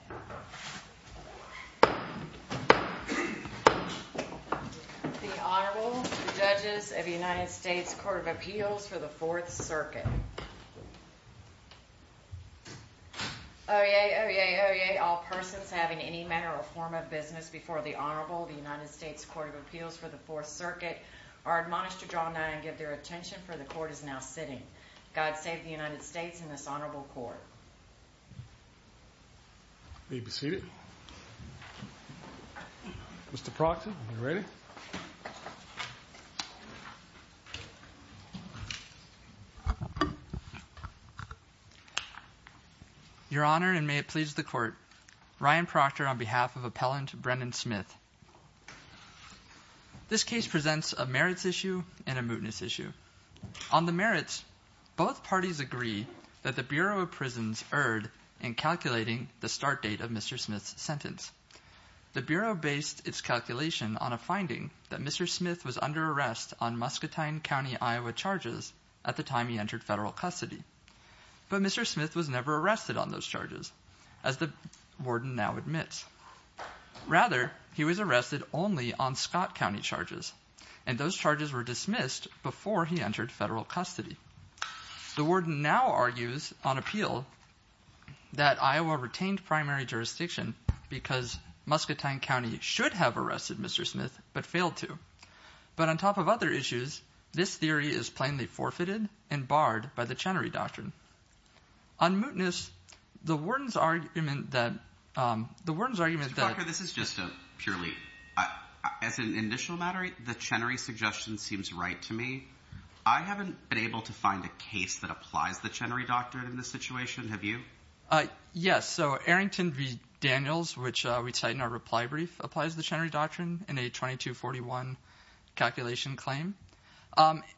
The Honorable Judges of the United States Court of Appeals for the Fourth Circuit. Oyez, oyez, oyez, all persons having any manner or form of business before the Honorable of the United States Court of Appeals for the Fourth Circuit are admonished to draw nigh and give their attention, for the Court is now sitting. God save the United States and this Honorable Court. You may be seated. Mr. Proctor, are you ready? Your Honor, and may it please the Court, Ryan Proctor on behalf of Appellant Brennan Smith. This case presents a merits issue and a mootness issue. On the merits, both parties agree that the Bureau of Prisons erred in calculating the start date of Mr. Smith's sentence. The Bureau based its calculation on a finding that Mr. Smith was under arrest on Muscatine County, Iowa charges at the time he entered federal custody. But Mr. Smith was never arrested on those charges, as the warden now admits. Rather, he was arrested only on Scott County charges, and those charges were dismissed before he entered federal custody. The warden now argues on appeal that Iowa retained primary jurisdiction because Muscatine County should have arrested Mr. Smith, but failed to. But on top of other issues, this theory is plainly forfeited and barred by the Chenery Doctrine. On mootness, the warden's argument that- Mr. Proctor, this is just a purely- as an initial matter, the Chenery suggestion seems right to me. I haven't been able to find a case that applies the Chenery Doctrine in this situation. Have you? Yes. So Arrington v. Daniels, which we cite in our reply brief, applies the Chenery Doctrine in a 2241 calculation claim.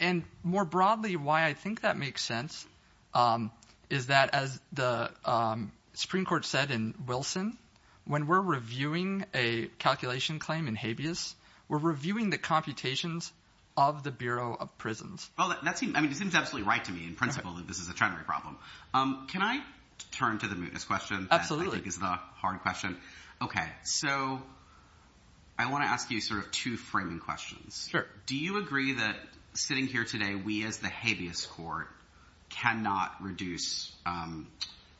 And more broadly, why I think that makes sense is that, as the Supreme Court said in Wilson, when we're reviewing a calculation claim in habeas, we're reviewing the computations of the Bureau of Prisons. Well, that seems – I mean, it seems absolutely right to me in principle that this is a Chenery problem. Can I turn to the mootness question? Absolutely. That I think is the hard question. Okay. So I want to ask you sort of two framing questions. Sure. Do you agree that, sitting here today, we as the habeas court cannot reduce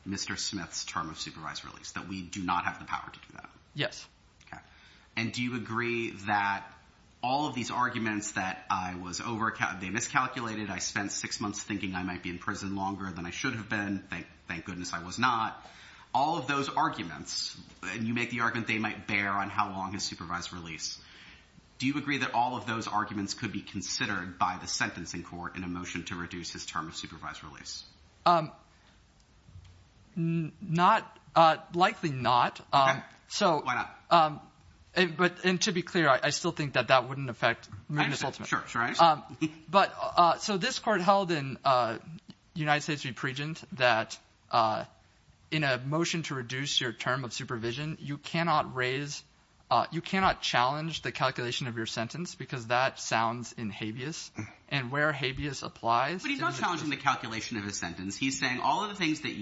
Mr. Smith's term of supervised release, that we do not have the power to do that? Yes. Okay. And do you agree that all of these arguments that I was over – they miscalculated, I spent six months thinking I might be in prison longer than I should have been, thank goodness I was not. All of those arguments, and you make the argument they might bear on how long his supervised release, do you agree that all of those arguments could be considered by the sentencing court in a motion to reduce his term of supervised release? Not – likely not. Okay. So – Why not? But – and to be clear, I still think that that wouldn't affect – I understand. Sure. But – so this court held in United States v. Pregent that in a motion to reduce your term of supervision, you cannot raise – you cannot challenge the calculation of your sentence because that sounds in habeas. And where habeas applies – But he's not challenging the calculation of his sentence. He's saying all of the things that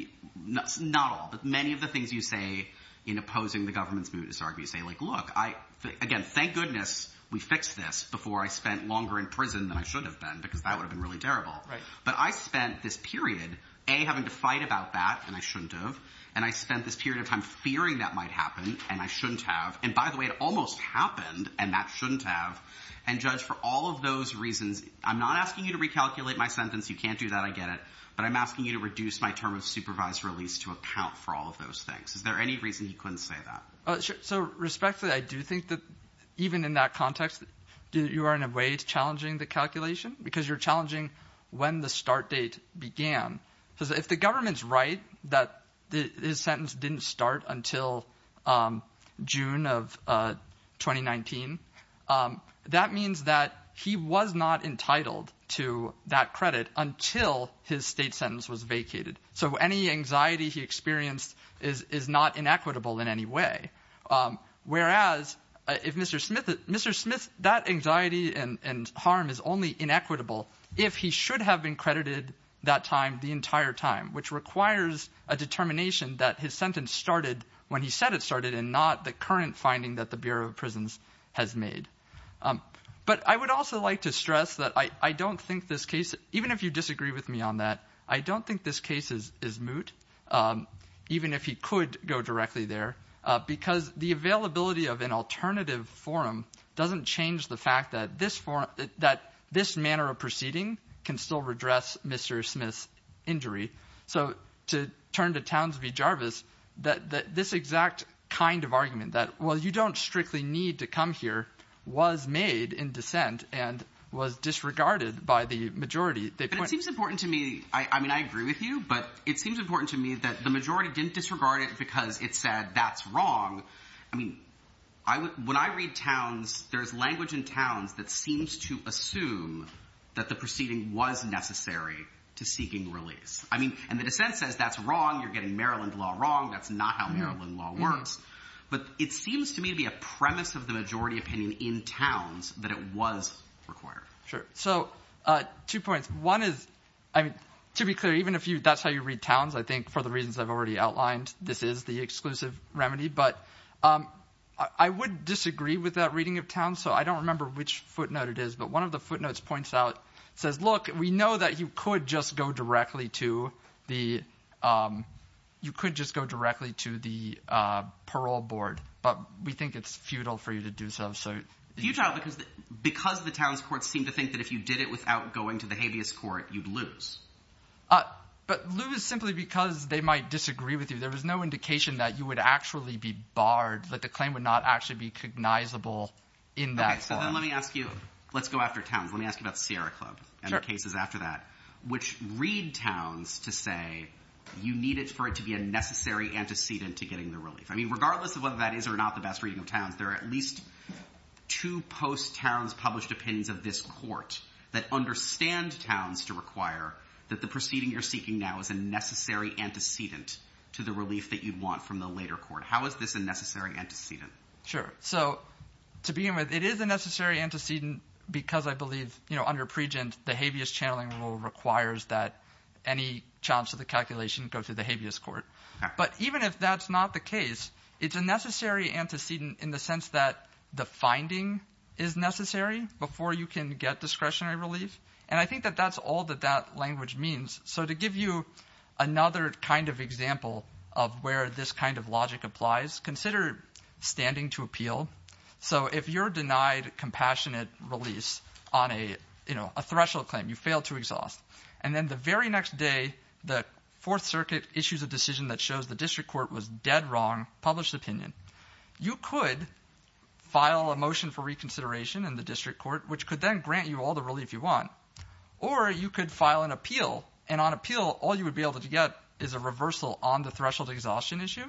– not all, but many of the things you say in opposing the government's mootness argument. You say, like, look, I – again, thank goodness we fixed this before I spent longer in prison than I should have been because that would have been really terrible. Right. But I spent this period, A, having to fight about that, and I shouldn't have, and I spent this period of time fearing that might happen, and I shouldn't have. And by the way, it almost happened, and that shouldn't have. And, Judge, for all of those reasons, I'm not asking you to recalculate my sentence. You can't do that. I get it. But I'm asking you to reduce my term of supervised release to account for all of those things. Is there any reason you couldn't say that? So, respectfully, I do think that even in that context you are in a way challenging the calculation because you're challenging when the start date began. Because if the government's right that his sentence didn't start until June of 2019, that means that he was not entitled to that credit until his state sentence was vacated. So any anxiety he experienced is not inequitable in any way. Whereas, if Mr. Smith, that anxiety and harm is only inequitable if he should have been credited that time the entire time, which requires a determination that his sentence started when he said it started and not the current finding that the Bureau of Prisons has made. But I would also like to stress that I don't think this case, even if you disagree with me on that, I don't think this case is moot, even if he could go directly there. Because the availability of an alternative forum doesn't change the fact that this manner of proceeding can still redress Mr. Smith's injury. So to turn to Townsview Jarvis, that this exact kind of argument that, well, you don't strictly need to come here, was made in dissent and was disregarded by the majority. It seems important to me. I mean, I agree with you, but it seems important to me that the majority didn't disregard it because it said that's wrong. I mean, when I read Towns, there's language in Towns that seems to assume that the proceeding was necessary to seeking release. I mean, and the dissent says that's wrong. You're getting Maryland law wrong. That's not how Maryland law works. But it seems to me to be a premise of the majority opinion in Towns that it was required. Sure. So two points. One is, I mean, to be clear, even if that's how you read Towns, I think for the reasons I've already outlined, this is the exclusive remedy. But I would disagree with that reading of Towns. So I don't remember which footnote it is. But one of the footnotes points out, says, look, we know that you could just go directly to the you could just go directly to the parole board. But we think it's futile for you to do so. So Utah, because because the town's courts seem to think that if you did it without going to the habeas court, you'd lose. But lose simply because they might disagree with you. There was no indication that you would actually be barred. But the claim would not actually be cognizable in that. So let me ask you, let's go after Towns. Let me ask you about Sierra Club and the cases after that, which read Towns to say you need it for it to be a necessary antecedent to getting the relief. I mean, regardless of whether that is or not the best reading of Towns, there are at least two post Towns published opinions of this court that understand Towns to require that the proceeding you're seeking now is a necessary antecedent to the relief that you'd want from the later court. How is this a necessary antecedent? Sure. So to begin with, it is a necessary antecedent because I believe, you know, under Pregent, the habeas channeling rule requires that any chance of the calculation go to the habeas court. But even if that's not the case, it's a necessary antecedent in the sense that the finding is necessary before you can get discretionary relief. And I think that that's all that that language means. So to give you another kind of example of where this kind of logic applies, consider standing to appeal. So if you're denied compassionate release on a, you know, a threshold claim, you fail to exhaust, and then the very next day, the Fourth Circuit issues a decision that shows the district court was dead wrong, published opinion. You could file a motion for reconsideration in the district court, which could then grant you all the relief you want. Or you could file an appeal, and on appeal, all you would be able to get is a reversal on the threshold exhaustion issue.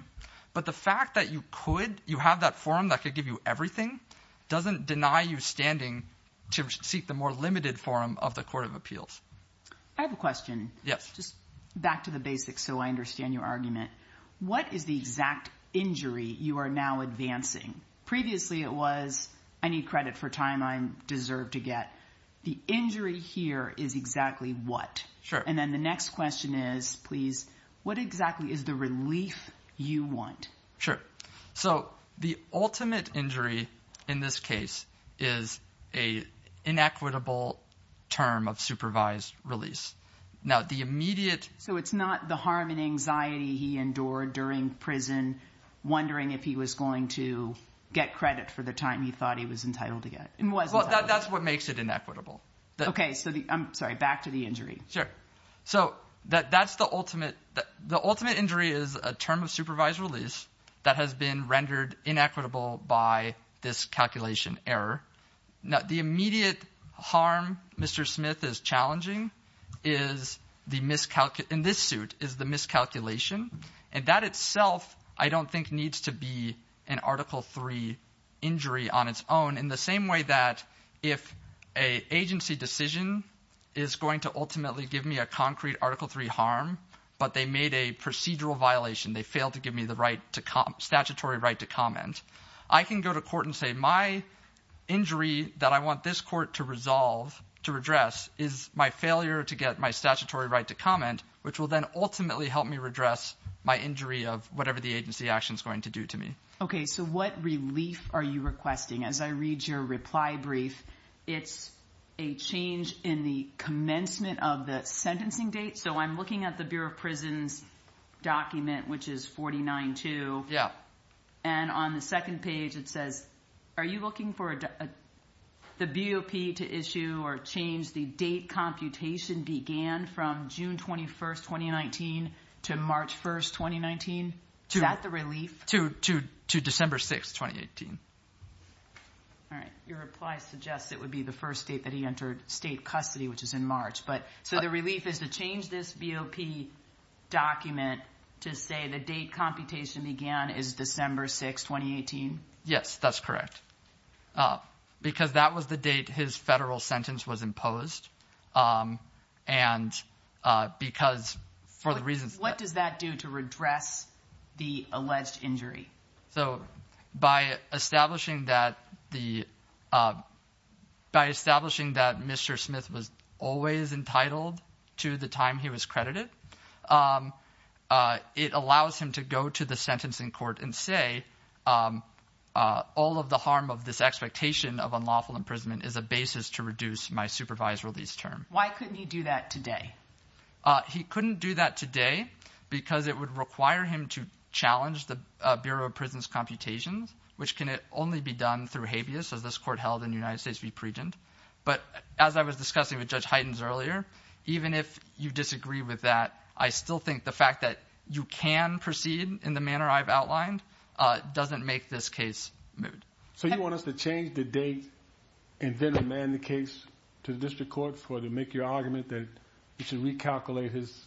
But the fact that you could, you have that forum that could give you everything doesn't deny you standing to seek the more limited forum of the court of appeals. I have a question. Just back to the basics so I understand your argument. What is the exact injury you are now advancing? Previously it was, I need credit for time I deserve to get. The injury here is exactly what? And then the next question is, please, what exactly is the relief you want? Sure. So the ultimate injury in this case is a inequitable term of supervised release. Now the immediate... So it's not the harm and anxiety he endured during prison, wondering if he was going to get credit for the time he thought he was entitled to get. Well, that's what makes it inequitable. Okay, so the, I'm sorry, back to the injury. Sure. So that's the ultimate, the ultimate injury is a term of supervised release that has been rendered inequitable by this calculation error. Now the immediate harm Mr. Smith is challenging is the miscalculation, in this suit, is the miscalculation. And that itself I don't think needs to be an Article III injury on its own in the same way that if an agency decision is going to ultimately give me a concrete Article III harm, but they made a procedural violation, they failed to give me the statutory right to comment, I can go to court and say my injury that I want this court to resolve, to redress, is my failure to get my statutory right to comment, which will then ultimately help me redress my injury of whatever the agency action is going to do to me. Okay, so what relief are you requesting? As I read your reply brief, it's a change in the commencement of the sentencing date. So I'm looking at the Bureau of Prisons document, which is 49-2. Yeah. And on the second page it says, are you looking for the BOP to issue or change the date computation began from June 21, 2019 to March 1, 2019? Is that the relief? To December 6, 2018. All right. Your reply suggests it would be the first date that he entered state custody, which is in March. So the relief is to change this BOP document to say the date computation began is December 6, 2018? Yes, that's correct. Because that was the date his federal sentence was imposed. What does that do to redress the alleged injury? So by establishing that Mr. Smith was always entitled to the time he was credited, it allows him to go to the sentencing court and say, all of the harm of this expectation of unlawful imprisonment is a basis to reduce my supervised release term. Why couldn't he do that today? He couldn't do that today because it would require him to challenge the Bureau of Prisons computations, which can only be done through habeas, as this court held in the United States v. Pregent. But as I was discussing with Judge Heitens earlier, even if you disagree with that, I still think the fact that you can proceed in the manner I've outlined doesn't make this case moved. So you want us to change the date and then demand the case to the district court to make your argument that we should recalculate his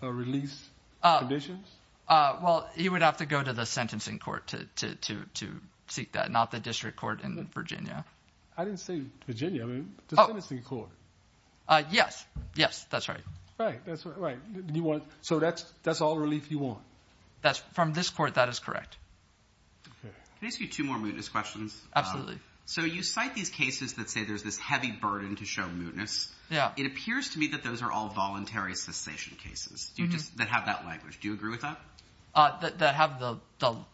release conditions? Well, he would have to go to the sentencing court to seek that, not the district court in Virginia. I didn't say Virginia. I mean, the sentencing court. Yes, yes, that's right. Right, that's right. So that's all relief you want? From this court, that is correct. Can I ask you two more mootness questions? So you cite these cases that say there's this heavy burden to show mootness. Yeah. It appears to me that those are all voluntary cessation cases that have that language. Do you agree with that? That have the…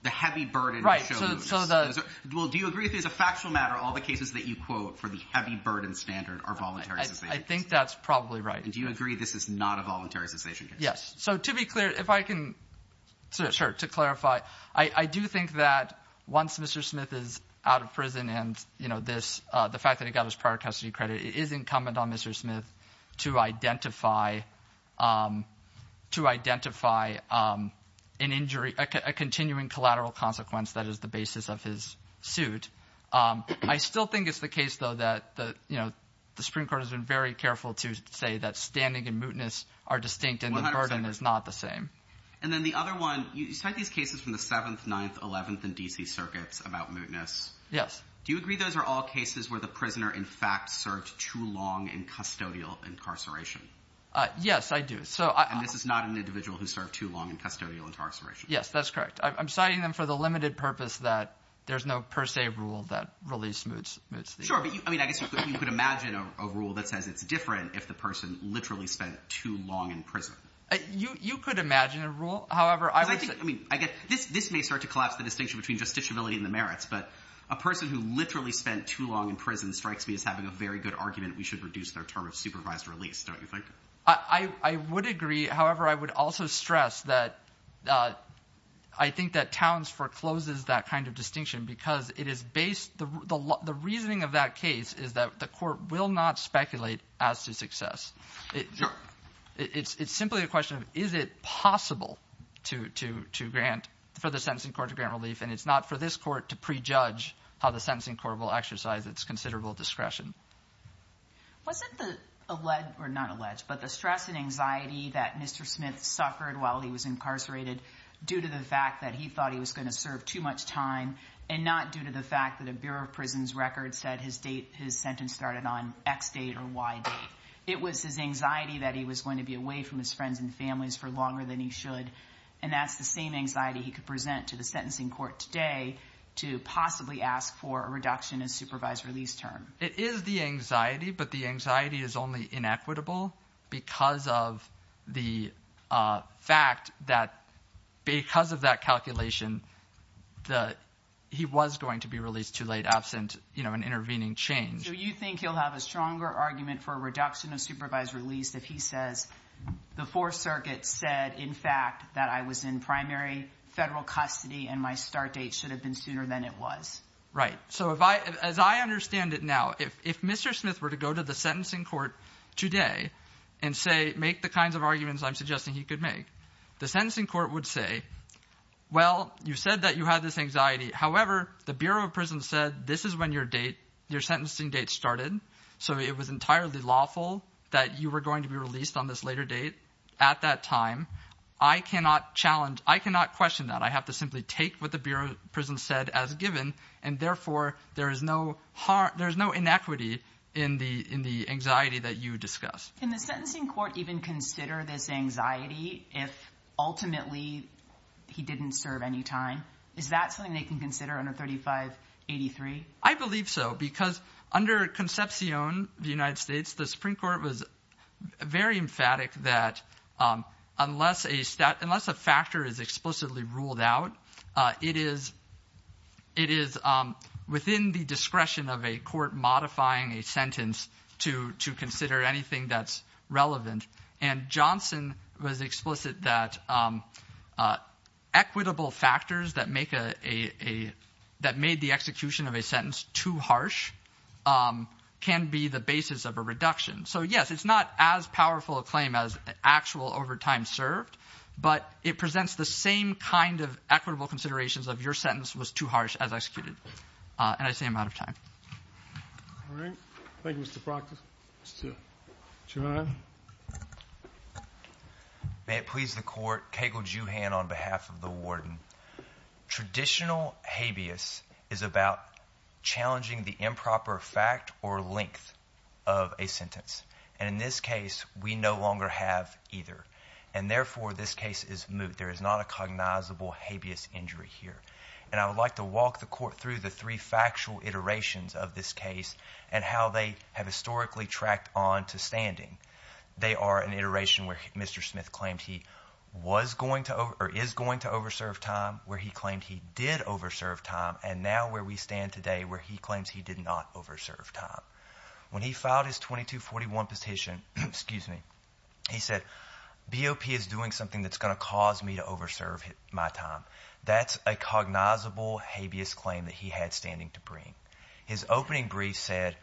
The heavy burden to show mootness. Right, so the… Well, do you agree with me as a factual matter, all the cases that you quote for the heavy burden standard are voluntary cessation cases? I think that's probably right. And do you agree this is not a voluntary cessation case? Yes. So to be clear, if I can… To clarify, I do think that once Mr. Smith is out of prison and, you know, this, the fact that he got his prior custody credit, it is incumbent on Mr. Smith to identify an injury, a continuing collateral consequence that is the basis of his suit. I still think it's the case, though, that, you know, the Supreme Court has been very careful to say that standing and mootness are distinct. 100%. And the burden is not the same. And then the other one, you cite these cases from the 7th, 9th, 11th, and D.C. circuits about mootness. Yes. Do you agree those are all cases where the prisoner, in fact, served too long in custodial incarceration? Yes, I do. So I… And this is not an individual who served too long in custodial incarceration. Yes, that's correct. I'm citing them for the limited purpose that there's no per se rule that really smooths things. Sure, but, I mean, I guess you could imagine a rule that says it's different if the person literally spent too long in prison. You could imagine a rule. However, I would say… Because I think, I mean, this may start to collapse the distinction between justiciability and the merits, but a person who literally spent too long in prison strikes me as having a very good argument we should reduce their term of supervised release, don't you think? I would agree. However, I would also stress that I think that Towns forecloses that kind of distinction because it is based… The reasoning of that case is that the court will not speculate as to success. Sure. It's simply a question of is it possible to grant, for the sentencing court to grant relief, and it's not for this court to prejudge how the sentencing court will exercise its considerable discretion. Wasn't the alleged, or not alleged, but the stress and anxiety that Mr. Smith suffered while he was incarcerated due to the fact that he thought he was going to serve too much time and not due to the fact that a Bureau of Prisons record said his sentence started on X date or Y date? It was his anxiety that he was going to be away from his friends and families for longer than he should, and that's the same anxiety he could present to the sentencing court today to possibly ask for a reduction in supervised release term. It is the anxiety, but the anxiety is only inequitable because of the fact that because of that calculation that he was going to be released too late, absent an intervening change. So you think he'll have a stronger argument for a reduction of supervised release if he says, the Fourth Circuit said, in fact, that I was in primary federal custody and my start date should have been sooner than it was. Right. So as I understand it now, if Mr. Smith were to go to the sentencing court today and say, make the kinds of arguments I'm suggesting he could make, the sentencing court would say, well, you said that you had this anxiety, however, the Bureau of Prisons said this is when your date, your sentencing date started, so it was entirely lawful that you were going to be released on this later date at that time. I cannot challenge, I cannot question that. I have to simply take what the Bureau of Prisons said as given. And therefore, there is no inequity in the anxiety that you discussed. Can the sentencing court even consider this anxiety if ultimately he didn't serve any time? Is that something they can consider under 3583? I believe so, because under Concepcion, the United States, the Supreme Court was very emphatic that unless a factor is explicitly ruled out, it is within the discretion of a court modifying a sentence to consider anything that's relevant. And Johnson was explicit that equitable factors that make a, that made the execution of a sentence too harsh can be the basis of a reduction. So, yes, it's not as powerful a claim as actual overtime served, but it presents the same kind of equitable considerations of your sentence was too harsh as executed. And I say I'm out of time. All right. Thank you, Mr. Proctor. Mr. Chauhan. May it please the Court. On behalf of the warden, traditional habeas is about challenging the improper fact or length of a sentence. And in this case, we no longer have either. And therefore, this case is moot. There is not a cognizable habeas injury here. And I would like to walk the court through the three factual iterations of this case and how they have historically tracked on to standing. They are an iteration where Mr. Smith claimed he was going to or is going to over serve time, where he claimed he did over serve time, and now where we stand today where he claims he did not over serve time. When he filed his 2241 petition, he said, BOP is doing something that's going to cause me to over serve my time. That's a cognizable habeas claim that he had standing to bring. His opening brief said,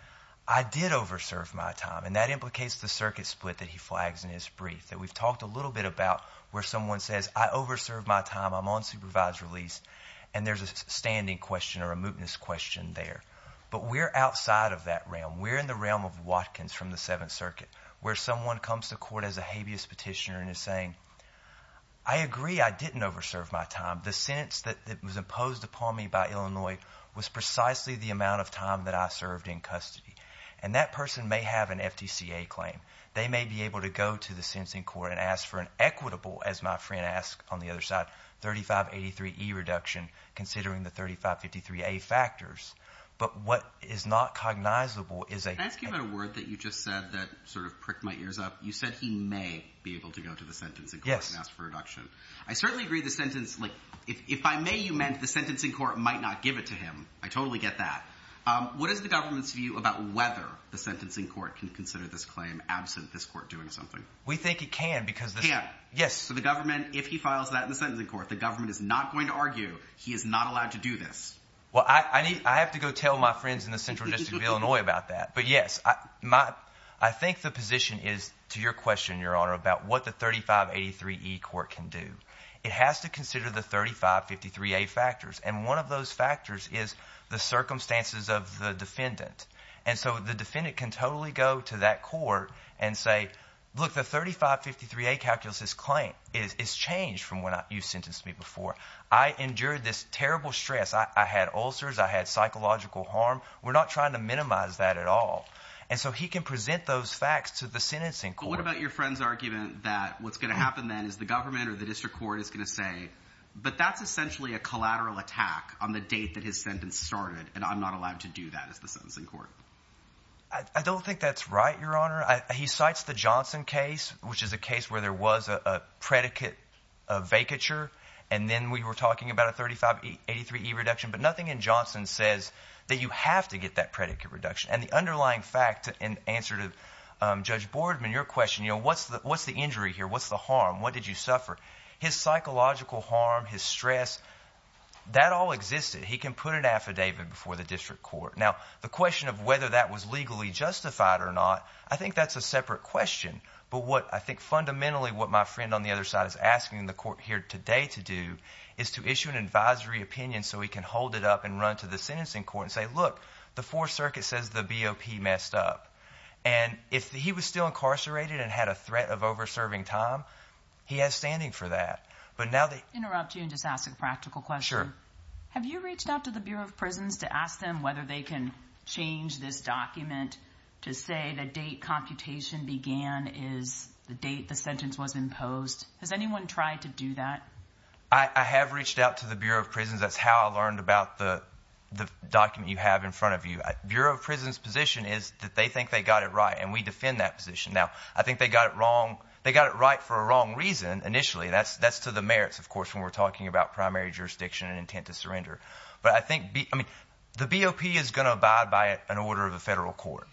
I did over serve my time, and that implicates the circuit split that he flags in his brief, that we've talked a little bit about where someone says, I over served my time, I'm on supervised release, and there's a standing question or a mootness question there. But we're outside of that realm. We're in the realm of Watkins from the Seventh Circuit, where someone comes to court as a habeas petitioner and is saying, I agree, I didn't over serve my time. The sentence that was imposed upon me by Illinois was precisely the amount of time that I served in custody. And that person may have an FTCA claim. They may be able to go to the sentencing court and ask for an equitable, as my friend asked on the other side, 3583E reduction, considering the 3553A factors, but what is not cognizable is a – Can I ask you about a word that you just said that sort of pricked my ears up? You said he may be able to go to the sentencing court and ask for a reduction. I certainly agree the sentence – if I may, you meant the sentencing court might not give it to him. I totally get that. What is the government's view about whether the sentencing court can consider this claim absent this court doing something? We think it can because – Yeah. Yes. So the government, if he files that in the sentencing court, the government is not going to argue he is not allowed to do this. Well, I have to go tell my friends in the central district of Illinois about that. But, yes, I think the position is, to your question, Your Honor, about what the 3583E court can do. It has to consider the 3553A factors, and one of those factors is the circumstances of the defendant. And so the defendant can totally go to that court and say, look, the 3553A calculus's claim is changed from when you sentenced me before. I endured this terrible stress. I had ulcers. I had psychological harm. We're not trying to minimize that at all. And so he can present those facts to the sentencing court. But what about your friend's argument that what's going to happen then is the government or the district court is going to say, but that's essentially a collateral attack on the date that his sentence started, and I'm not allowed to do that as the sentencing court? I don't think that's right, Your Honor. He cites the Johnson case, which is a case where there was a predicate vacature, and then we were talking about a 3583E reduction, but nothing in Johnson says that you have to get that predicate reduction. And the underlying fact in answer to Judge Boardman, your question, what's the injury here? What's the harm? What did you suffer? His psychological harm, his stress, that all existed. He can put an affidavit before the district court. Now, the question of whether that was legally justified or not, I think that's a separate question. But what I think fundamentally what my friend on the other side is asking the court here today to do is to issue an advisory opinion so he can hold it up and run to the sentencing court and say, look, the Fourth Circuit says the BOP messed up. And if he was still incarcerated and had a threat of over-serving time, he has standing for that. I'll interrupt you and just ask a practical question. Sure. Have you reached out to the Bureau of Prisons to ask them whether they can change this document to say the date computation began is the date the sentence was imposed? Has anyone tried to do that? I have reached out to the Bureau of Prisons. That's how I learned about the document you have in front of you. Bureau of Prisons' position is that they think they got it right, and we defend that position. Now, I think they got it right for a wrong reason initially. That's to the merits, of course, when we're talking about primary jurisdiction and intent to surrender. But I think the BOP is going to abide by an order of the federal court.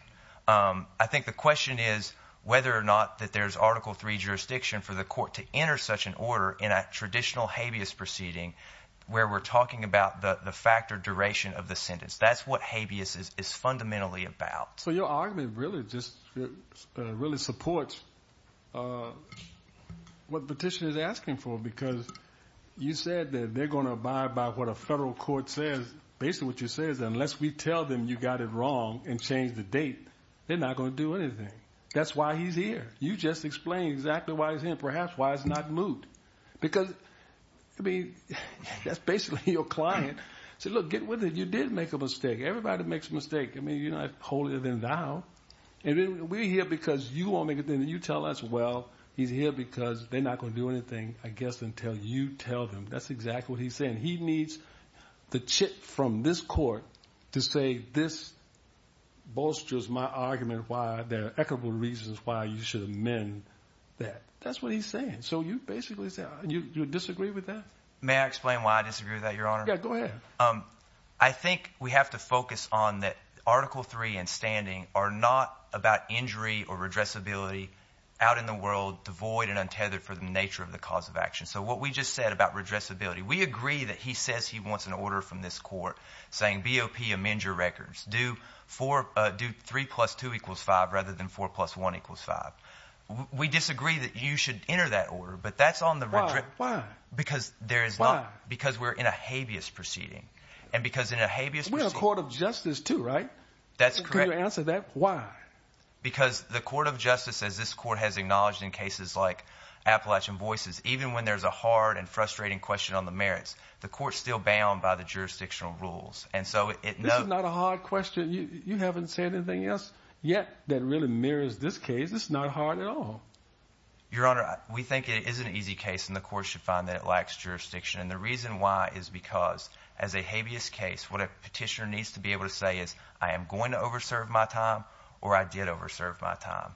I think the question is whether or not that there's Article III jurisdiction for the court to enter such an order in a traditional habeas proceeding where we're talking about the fact or duration of the sentence. That's what habeas is fundamentally about. So your argument really supports what the petitioner is asking for because you said that they're going to abide by what a federal court says. Basically, what you're saying is unless we tell them you got it wrong and change the date, they're not going to do anything. That's why he's here. You just explained exactly why he's here and perhaps why it's not moot. That's basically your client. You said, look, get with it. You did make a mistake. Everybody makes mistakes. You're not holier than thou. We're here because you won't make a thing. You tell us, well, he's here because they're not going to do anything, I guess, until you tell them. That's exactly what he's saying. He needs the chit from this court to say this bolsters my argument why there are equitable reasons why you should amend that. That's what he's saying. So you basically disagree with that? May I explain why I disagree with that, Your Honor? Yeah, go ahead. I think we have to focus on that Article III and standing are not about injury or redressability out in the world, devoid and untethered for the nature of the cause of action. So what we just said about redressability, we agree that he says he wants an order from this court saying BOP, amend your records. Do 3 plus 2 equals 5 rather than 4 plus 1 equals 5. We disagree that you should enter that order, but that's on the redressability. Why? Because we're in a habeas proceeding. We're a court of justice too, right? That's correct. Can you answer that? Because the court of justice, as this court has acknowledged in cases like Appalachian Voices, even when there's a hard and frustrating question on the merits, the court's still bound by the jurisdictional rules. This is not a hard question. You haven't said anything else yet that really mirrors this case. It's not hard at all. Your Honor, we think it is an easy case, and the court should find that it lacks jurisdiction. And the reason why is because as a habeas case, what a petitioner needs to be able to say is I am going to over-serve my time or I did over-serve my time.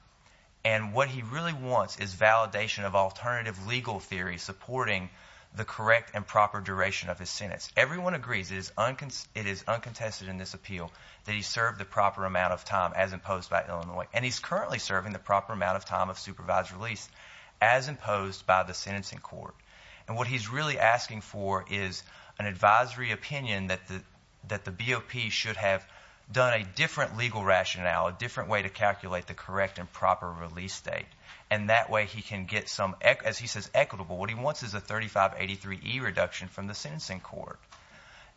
And what he really wants is validation of alternative legal theory supporting the correct and proper duration of his sentence. Everyone agrees it is uncontested in this appeal that he served the proper amount of time as imposed by Illinois. And he's currently serving the proper amount of time of supervised release as imposed by the sentencing court. And what he's really asking for is an advisory opinion that the BOP should have done a different legal rationale, a different way to calculate the correct and proper release date. And that way he can get some, as he says, equitable. What he wants is a 3583E reduction from the sentencing court.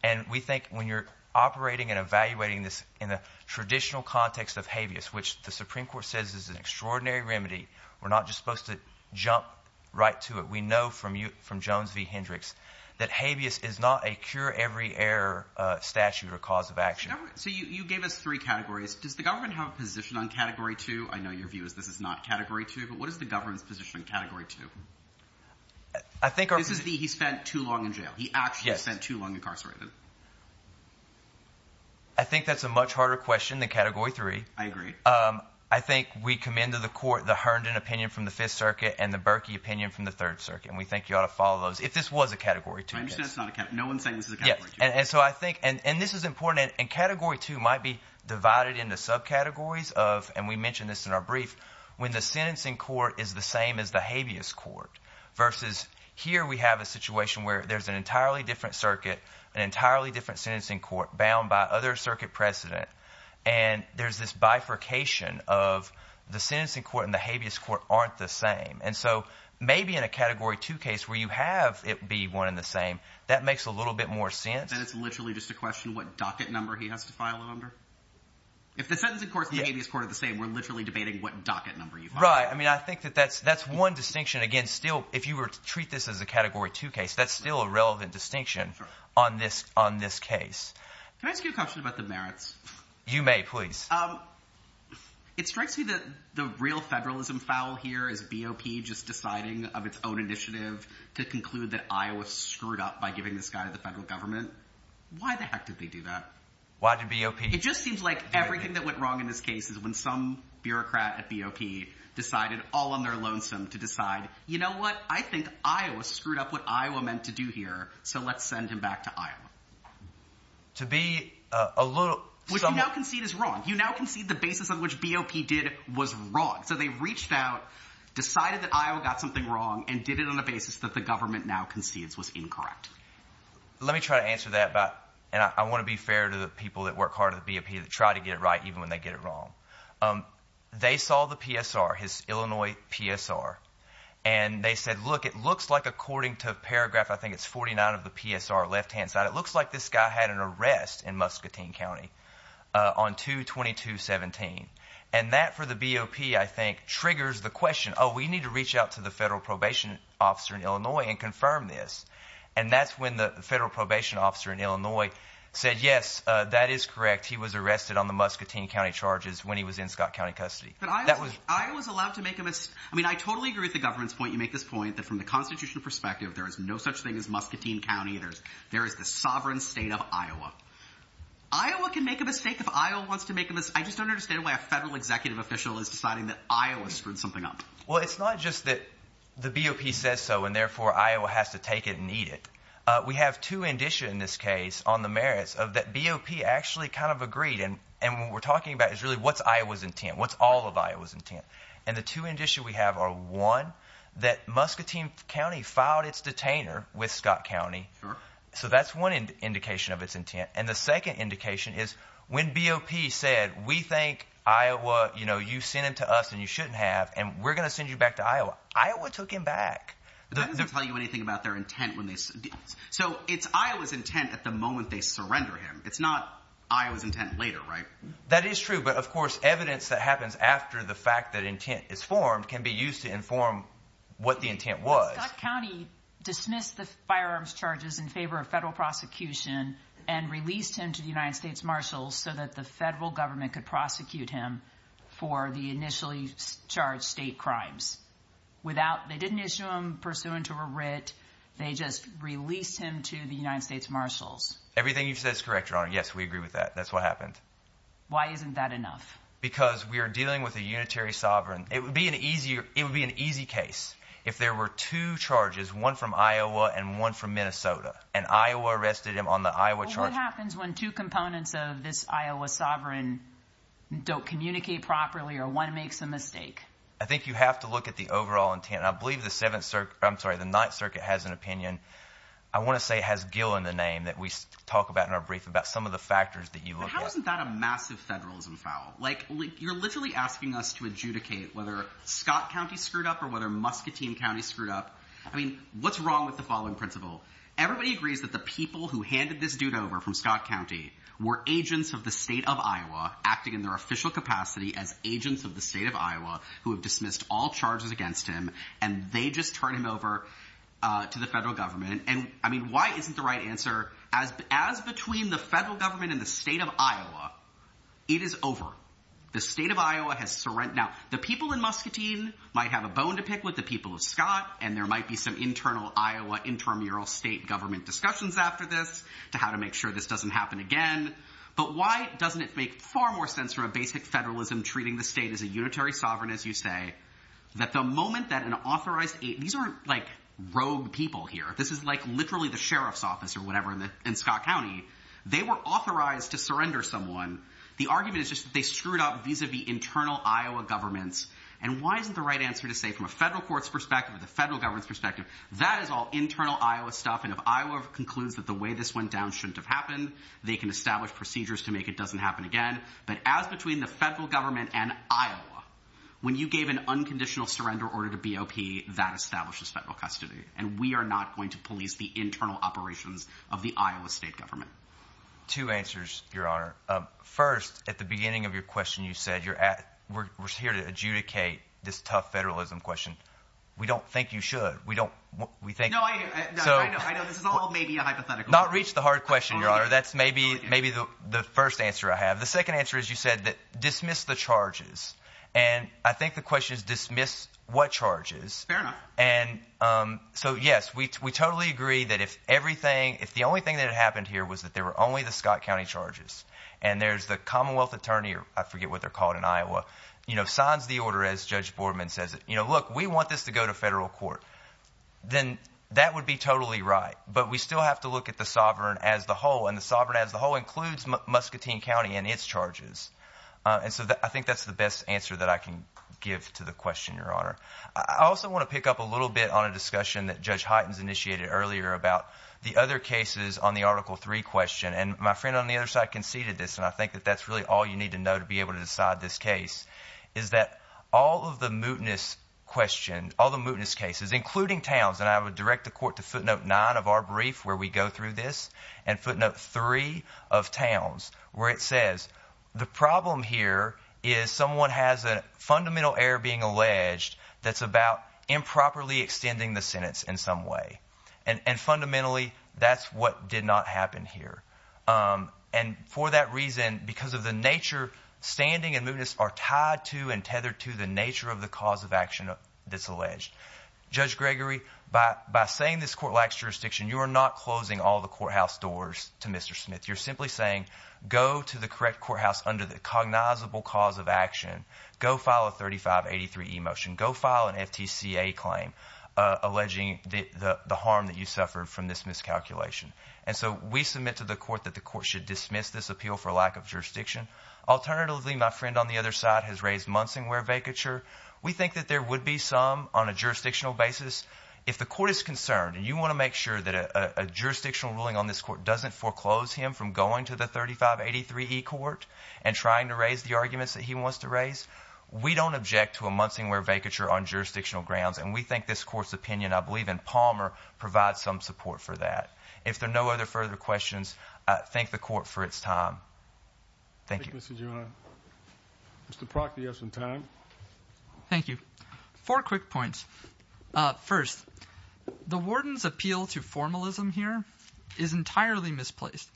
And we think when you're operating and evaluating this in a traditional context of habeas, which the Supreme Court says is an extraordinary remedy, we're not just supposed to jump right to it. We know from Jones v. Hendricks that habeas is not a cure-every-error statute or cause of action. So you gave us three categories. Does the government have a position on Category 2? I know your view is this is not Category 2. But what is the government's position on Category 2? I think our – So this is the he spent too long in jail. He actually spent too long incarcerated. I think that's a much harder question than Category 3. I agree. I think we commend to the court the Herndon opinion from the Fifth Circuit and the Berkey opinion from the Third Circuit. And we think you ought to follow those if this was a Category 2 case. I understand it's not a – no one's saying this is a Category 2 case. And so I think – and this is important. And Category 2 might be divided into subcategories of – and we mentioned this in our brief – when the sentencing court is the same as the habeas court versus here we have a situation where there's an entirely different circuit, an entirely different sentencing court bound by other circuit precedent. And there's this bifurcation of the sentencing court and the habeas court aren't the same. And so maybe in a Category 2 case where you have it be one and the same, that makes a little bit more sense. Then it's literally just a question of what docket number he has to file it under. If the sentencing court and the habeas court are the same, we're literally debating what docket number you file it under. Right. I mean I think that that's one distinction. Again, still, if you were to treat this as a Category 2 case, that's still a relevant distinction on this case. Can I ask you a question about the merits? You may, please. It strikes me that the real federalism foul here is BOP just deciding of its own initiative to conclude that Iowa screwed up by giving this guy to the federal government. Why the heck did they do that? Why did BOP do anything? It just seems like everything that went wrong in this case is when some bureaucrat at BOP decided all on their lonesome to decide, you know what? I think Iowa screwed up what Iowa meant to do here, so let's send him back to Iowa. To be a little – Which you now concede is wrong. You now concede the basis on which BOP did was wrong. So they reached out, decided that Iowa got something wrong, and did it on a basis that the government now concedes was incorrect. Let me try to answer that, and I want to be fair to the people that work hard at BOP that try to get it right even when they get it wrong. They saw the PSR, his Illinois PSR, and they said, look, it looks like according to paragraph, I think it's 49 of the PSR, left-hand side, it looks like this guy had an arrest in Muscatine County. On 2-22-17, and that for the BOP I think triggers the question, oh, we need to reach out to the federal probation officer in Illinois and confirm this. And that's when the federal probation officer in Illinois said, yes, that is correct. He was arrested on the Muscatine County charges when he was in Scott County custody. But Iowa's allowed to make a – I mean I totally agree with the government's point. You make this point that from the constitutional perspective, there is no such thing as Muscatine County. There is the sovereign state of Iowa. Iowa can make a mistake if Iowa wants to make a – I just don't understand why a federal executive official is deciding that Iowa screwed something up. Well, it's not just that the BOP says so and therefore Iowa has to take it and eat it. We have two indicia in this case on the merits of that BOP actually kind of agreed, and what we're talking about is really what's Iowa's intent, what's all of Iowa's intent. And the two indicia we have are, one, that Muscatine County filed its detainer with Scott County. Sure. So that's one indication of its intent. And the second indication is when BOP said, we think Iowa – you sent him to us and you shouldn't have, and we're going to send you back to Iowa, Iowa took him back. But that doesn't tell you anything about their intent when they – so it's Iowa's intent at the moment they surrender him. It's not Iowa's intent later, right? That is true, but of course evidence that happens after the fact that intent is formed can be used to inform what the intent was. Scott County dismissed the firearms charges in favor of federal prosecution and released him to the United States Marshals so that the federal government could prosecute him for the initially charged state crimes. Without – they didn't issue him pursuant to a writ. They just released him to the United States Marshals. Everything you've said is correct, Your Honor. Yes, we agree with that. That's what happened. Why isn't that enough? Because we are dealing with a unitary sovereign. It would be an easy case if there were two charges, one from Iowa and one from Minnesota, and Iowa arrested him on the Iowa charge. What happens when two components of this Iowa sovereign don't communicate properly or one makes a mistake? I think you have to look at the overall intent. I believe the Seventh – I'm sorry, the Ninth Circuit has an opinion. I want to say it has Gill in the name that we talk about in our brief about some of the factors that you look at. Why wasn't that a massive federalism foul? Like, you're literally asking us to adjudicate whether Scott County screwed up or whether Muscatine County screwed up. I mean, what's wrong with the following principle? Everybody agrees that the people who handed this dude over from Scott County were agents of the state of Iowa acting in their official capacity as agents of the state of Iowa who have dismissed all charges against him, and they just turned him over to the federal government. And, I mean, why isn't the right answer? As between the federal government and the state of Iowa, it is over. The state of Iowa has – now, the people in Muscatine might have a bone to pick with the people of Scott, and there might be some internal Iowa intramural state government discussions after this to how to make sure this doesn't happen again. But why doesn't it make far more sense from a basic federalism treating the state as a unitary sovereign, as you say, that the moment that an authorized – these are, like, rogue people here. This is, like, literally the sheriff's office or whatever in Scott County. They were authorized to surrender someone. The argument is just that they screwed up vis-a-vis internal Iowa governments. And why isn't the right answer to say from a federal court's perspective, the federal government's perspective, that is all internal Iowa stuff, and if Iowa concludes that the way this went down shouldn't have happened, they can establish procedures to make it doesn't happen again. But as between the federal government and Iowa, when you gave an unconditional surrender order to BOP, that establishes federal custody, and we are not going to police the internal operations of the Iowa state government. Two answers, Your Honor. First, at the beginning of your question, you said you're – we're here to adjudicate this tough federalism question. We don't think you should. We don't – we think – No, I know. I know. This is all maybe a hypothetical. Not reach the hard question, Your Honor. That's maybe the first answer I have. The second answer is you said dismiss the charges, and I think the question is dismiss what charges. Fair enough. And so, yes, we totally agree that if everything – if the only thing that had happened here was that there were only the Scott County charges and there's the Commonwealth attorney – I forget what they're called in Iowa – signs the order as Judge Boardman says it. Look, we want this to go to federal court. Then that would be totally right, but we still have to look at the sovereign as the whole, and the sovereign as the whole includes Muscatine County and its charges. And so I think that's the best answer that I can give to the question, Your Honor. I also want to pick up a little bit on a discussion that Judge Hytens initiated earlier about the other cases on the Article III question. And my friend on the other side conceded this, and I think that that's really all you need to know to be able to decide this case is that all of the mootness questions – all the mootness cases, including towns – and I would direct the court to footnote 9 of our brief where we go through this and footnote 3 of towns where it says the problem here is someone has a fundamental error being alleged. That's about improperly extending the sentence in some way, and fundamentally that's what did not happen here. And for that reason, because of the nature, standing and mootness are tied to and tethered to the nature of the cause of action that's alleged. Judge Gregory, by saying this court lacks jurisdiction, you are not closing all the courthouse doors to Mr. Smith. You're simply saying go to the correct courthouse under the cognizable cause of action. Go file a 3583e motion. Go file an FTCA claim alleging the harm that you suffered from this miscalculation. And so we submit to the court that the court should dismiss this appeal for lack of jurisdiction. Alternatively, my friend on the other side has raised Munsingwear vacature. We think that there would be some on a jurisdictional basis. If the court is concerned and you want to make sure that a jurisdictional ruling on this court doesn't foreclose him from going to the 3583e court and trying to raise the arguments that he wants to raise, we don't object to a Munsingwear vacature on jurisdictional grounds. And we think this court's opinion, I believe in Palmer, provides some support for that. If there are no other further questions, I thank the court for its time. Thank you. Mr. Proctor, you have some time. Thank you. Four quick points. First, the warden's appeal to formalism here is entirely misplaced.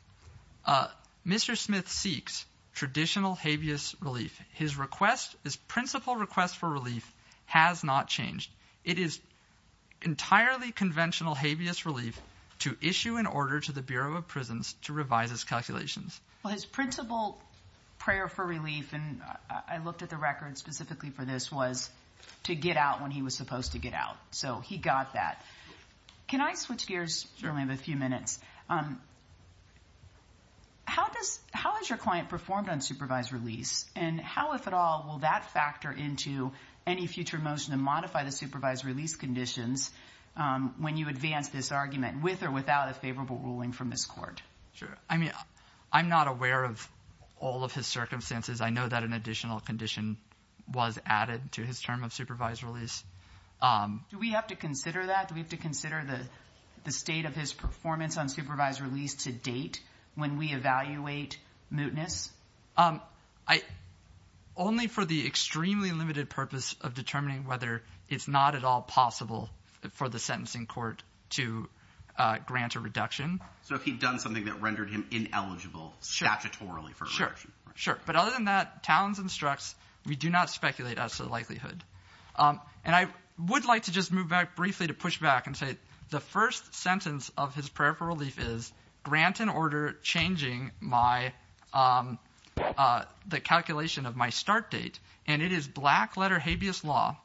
Mr. Smith seeks traditional habeas relief. His request, his principal request for relief has not changed. It is entirely conventional habeas relief to issue an order to the Bureau of Prisons to revise its calculations. Well, his principal prayer for relief, and I looked at the record specifically for this, was to get out when he was supposed to get out. So he got that. Can I switch gears? Sure. I only have a few minutes. How has your client performed on supervised release? And how, if at all, will that factor into any future motion to modify the supervised release conditions when you advance this argument with or without a favorable ruling from this court? Sure. I mean, I'm not aware of all of his circumstances. I know that an additional condition was added to his term of supervised release. Do we have to consider that? Do we have to consider the state of his performance on supervised release to date when we evaluate mootness? Only for the extremely limited purpose of determining whether it's not at all possible for the sentencing court to grant a reduction. So if he'd done something that rendered him ineligible statutorily for a reduction. But other than that, Talens instructs we do not speculate as to the likelihood. And I would like to just move back briefly to push back and say the first sentence of his prayer for relief is grant an order changing my – the calculation of my start date. And it is black-letter habeas law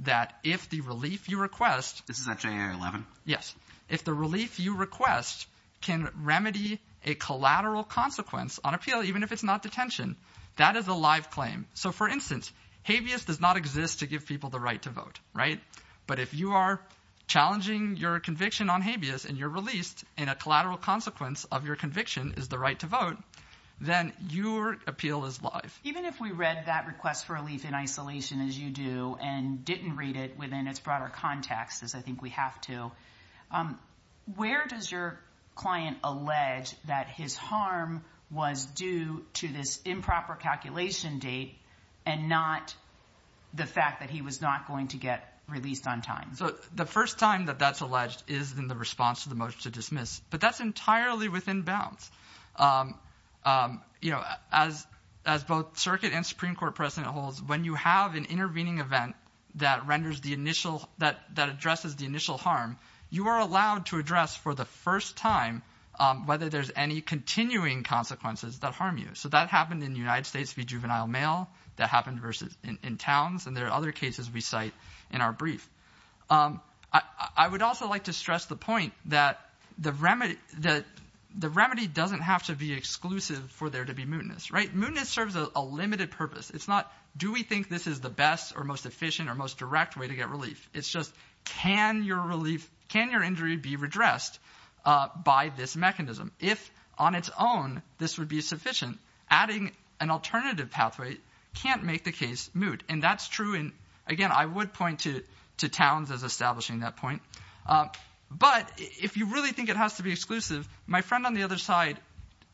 that if the relief you request – This is at JIR 11? Yes. If the relief you request can remedy a collateral consequence on appeal even if it's not detention, that is a live claim. So, for instance, habeas does not exist to give people the right to vote, right? But if you are challenging your conviction on habeas and you're released and a collateral consequence of your conviction is the right to vote, then your appeal is live. Even if we read that request for relief in isolation as you do and didn't read it within its broader context as I think we have to, where does your client allege that his harm was due to this improper calculation date and not the fact that he was not going to get released on time? So the first time that that's alleged is in the response to the motion to dismiss. But that's entirely within bounds. As both circuit and Supreme Court precedent holds, when you have an intervening event that renders the initial – that addresses the initial harm, you are allowed to address for the first time whether there's any continuing consequences that harm you. So that happened in the United States v. Juvenile Mail. That happened in towns. And there are other cases we cite in our brief. I would also like to stress the point that the remedy doesn't have to be exclusive for there to be mootness, right? Mootness serves a limited purpose. It's not do we think this is the best or most efficient or most direct way to get relief. It's just can your relief – can your injury be redressed by this mechanism? If on its own this would be sufficient, adding an alternative pathway can't make the case moot. And that's true. And, again, I would point to towns as establishing that point. But if you really think it has to be exclusive, my friend on the other side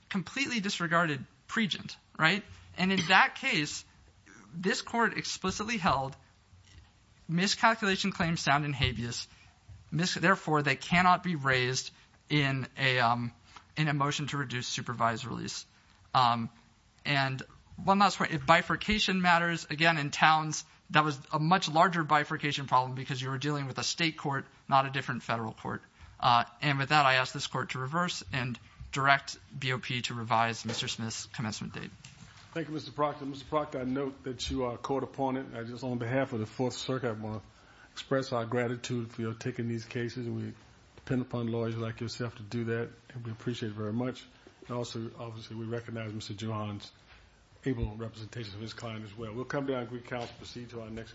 completely disregarded pregent, right? And in that case, this court explicitly held miscalculation claims sound in habeas. Therefore, they cannot be raised in a motion to reduce supervised release. And one last point, if bifurcation matters, again, in towns, that was a much larger bifurcation problem because you were dealing with a state court, not a different federal court. And with that, I ask this court to reverse and direct BOP to revise Mr. Smith's commencement date. Thank you, Mr. Proctor. Mr. Proctor, I note that you are a court opponent. I just on behalf of the Fourth Circuit want to express our gratitude for taking these cases. We depend upon lawyers like yourself to do that, and we appreciate it very much. And also, obviously, we recognize Mr. Johan's able representation of his client as well. We'll come back with counsel to proceed to our next case.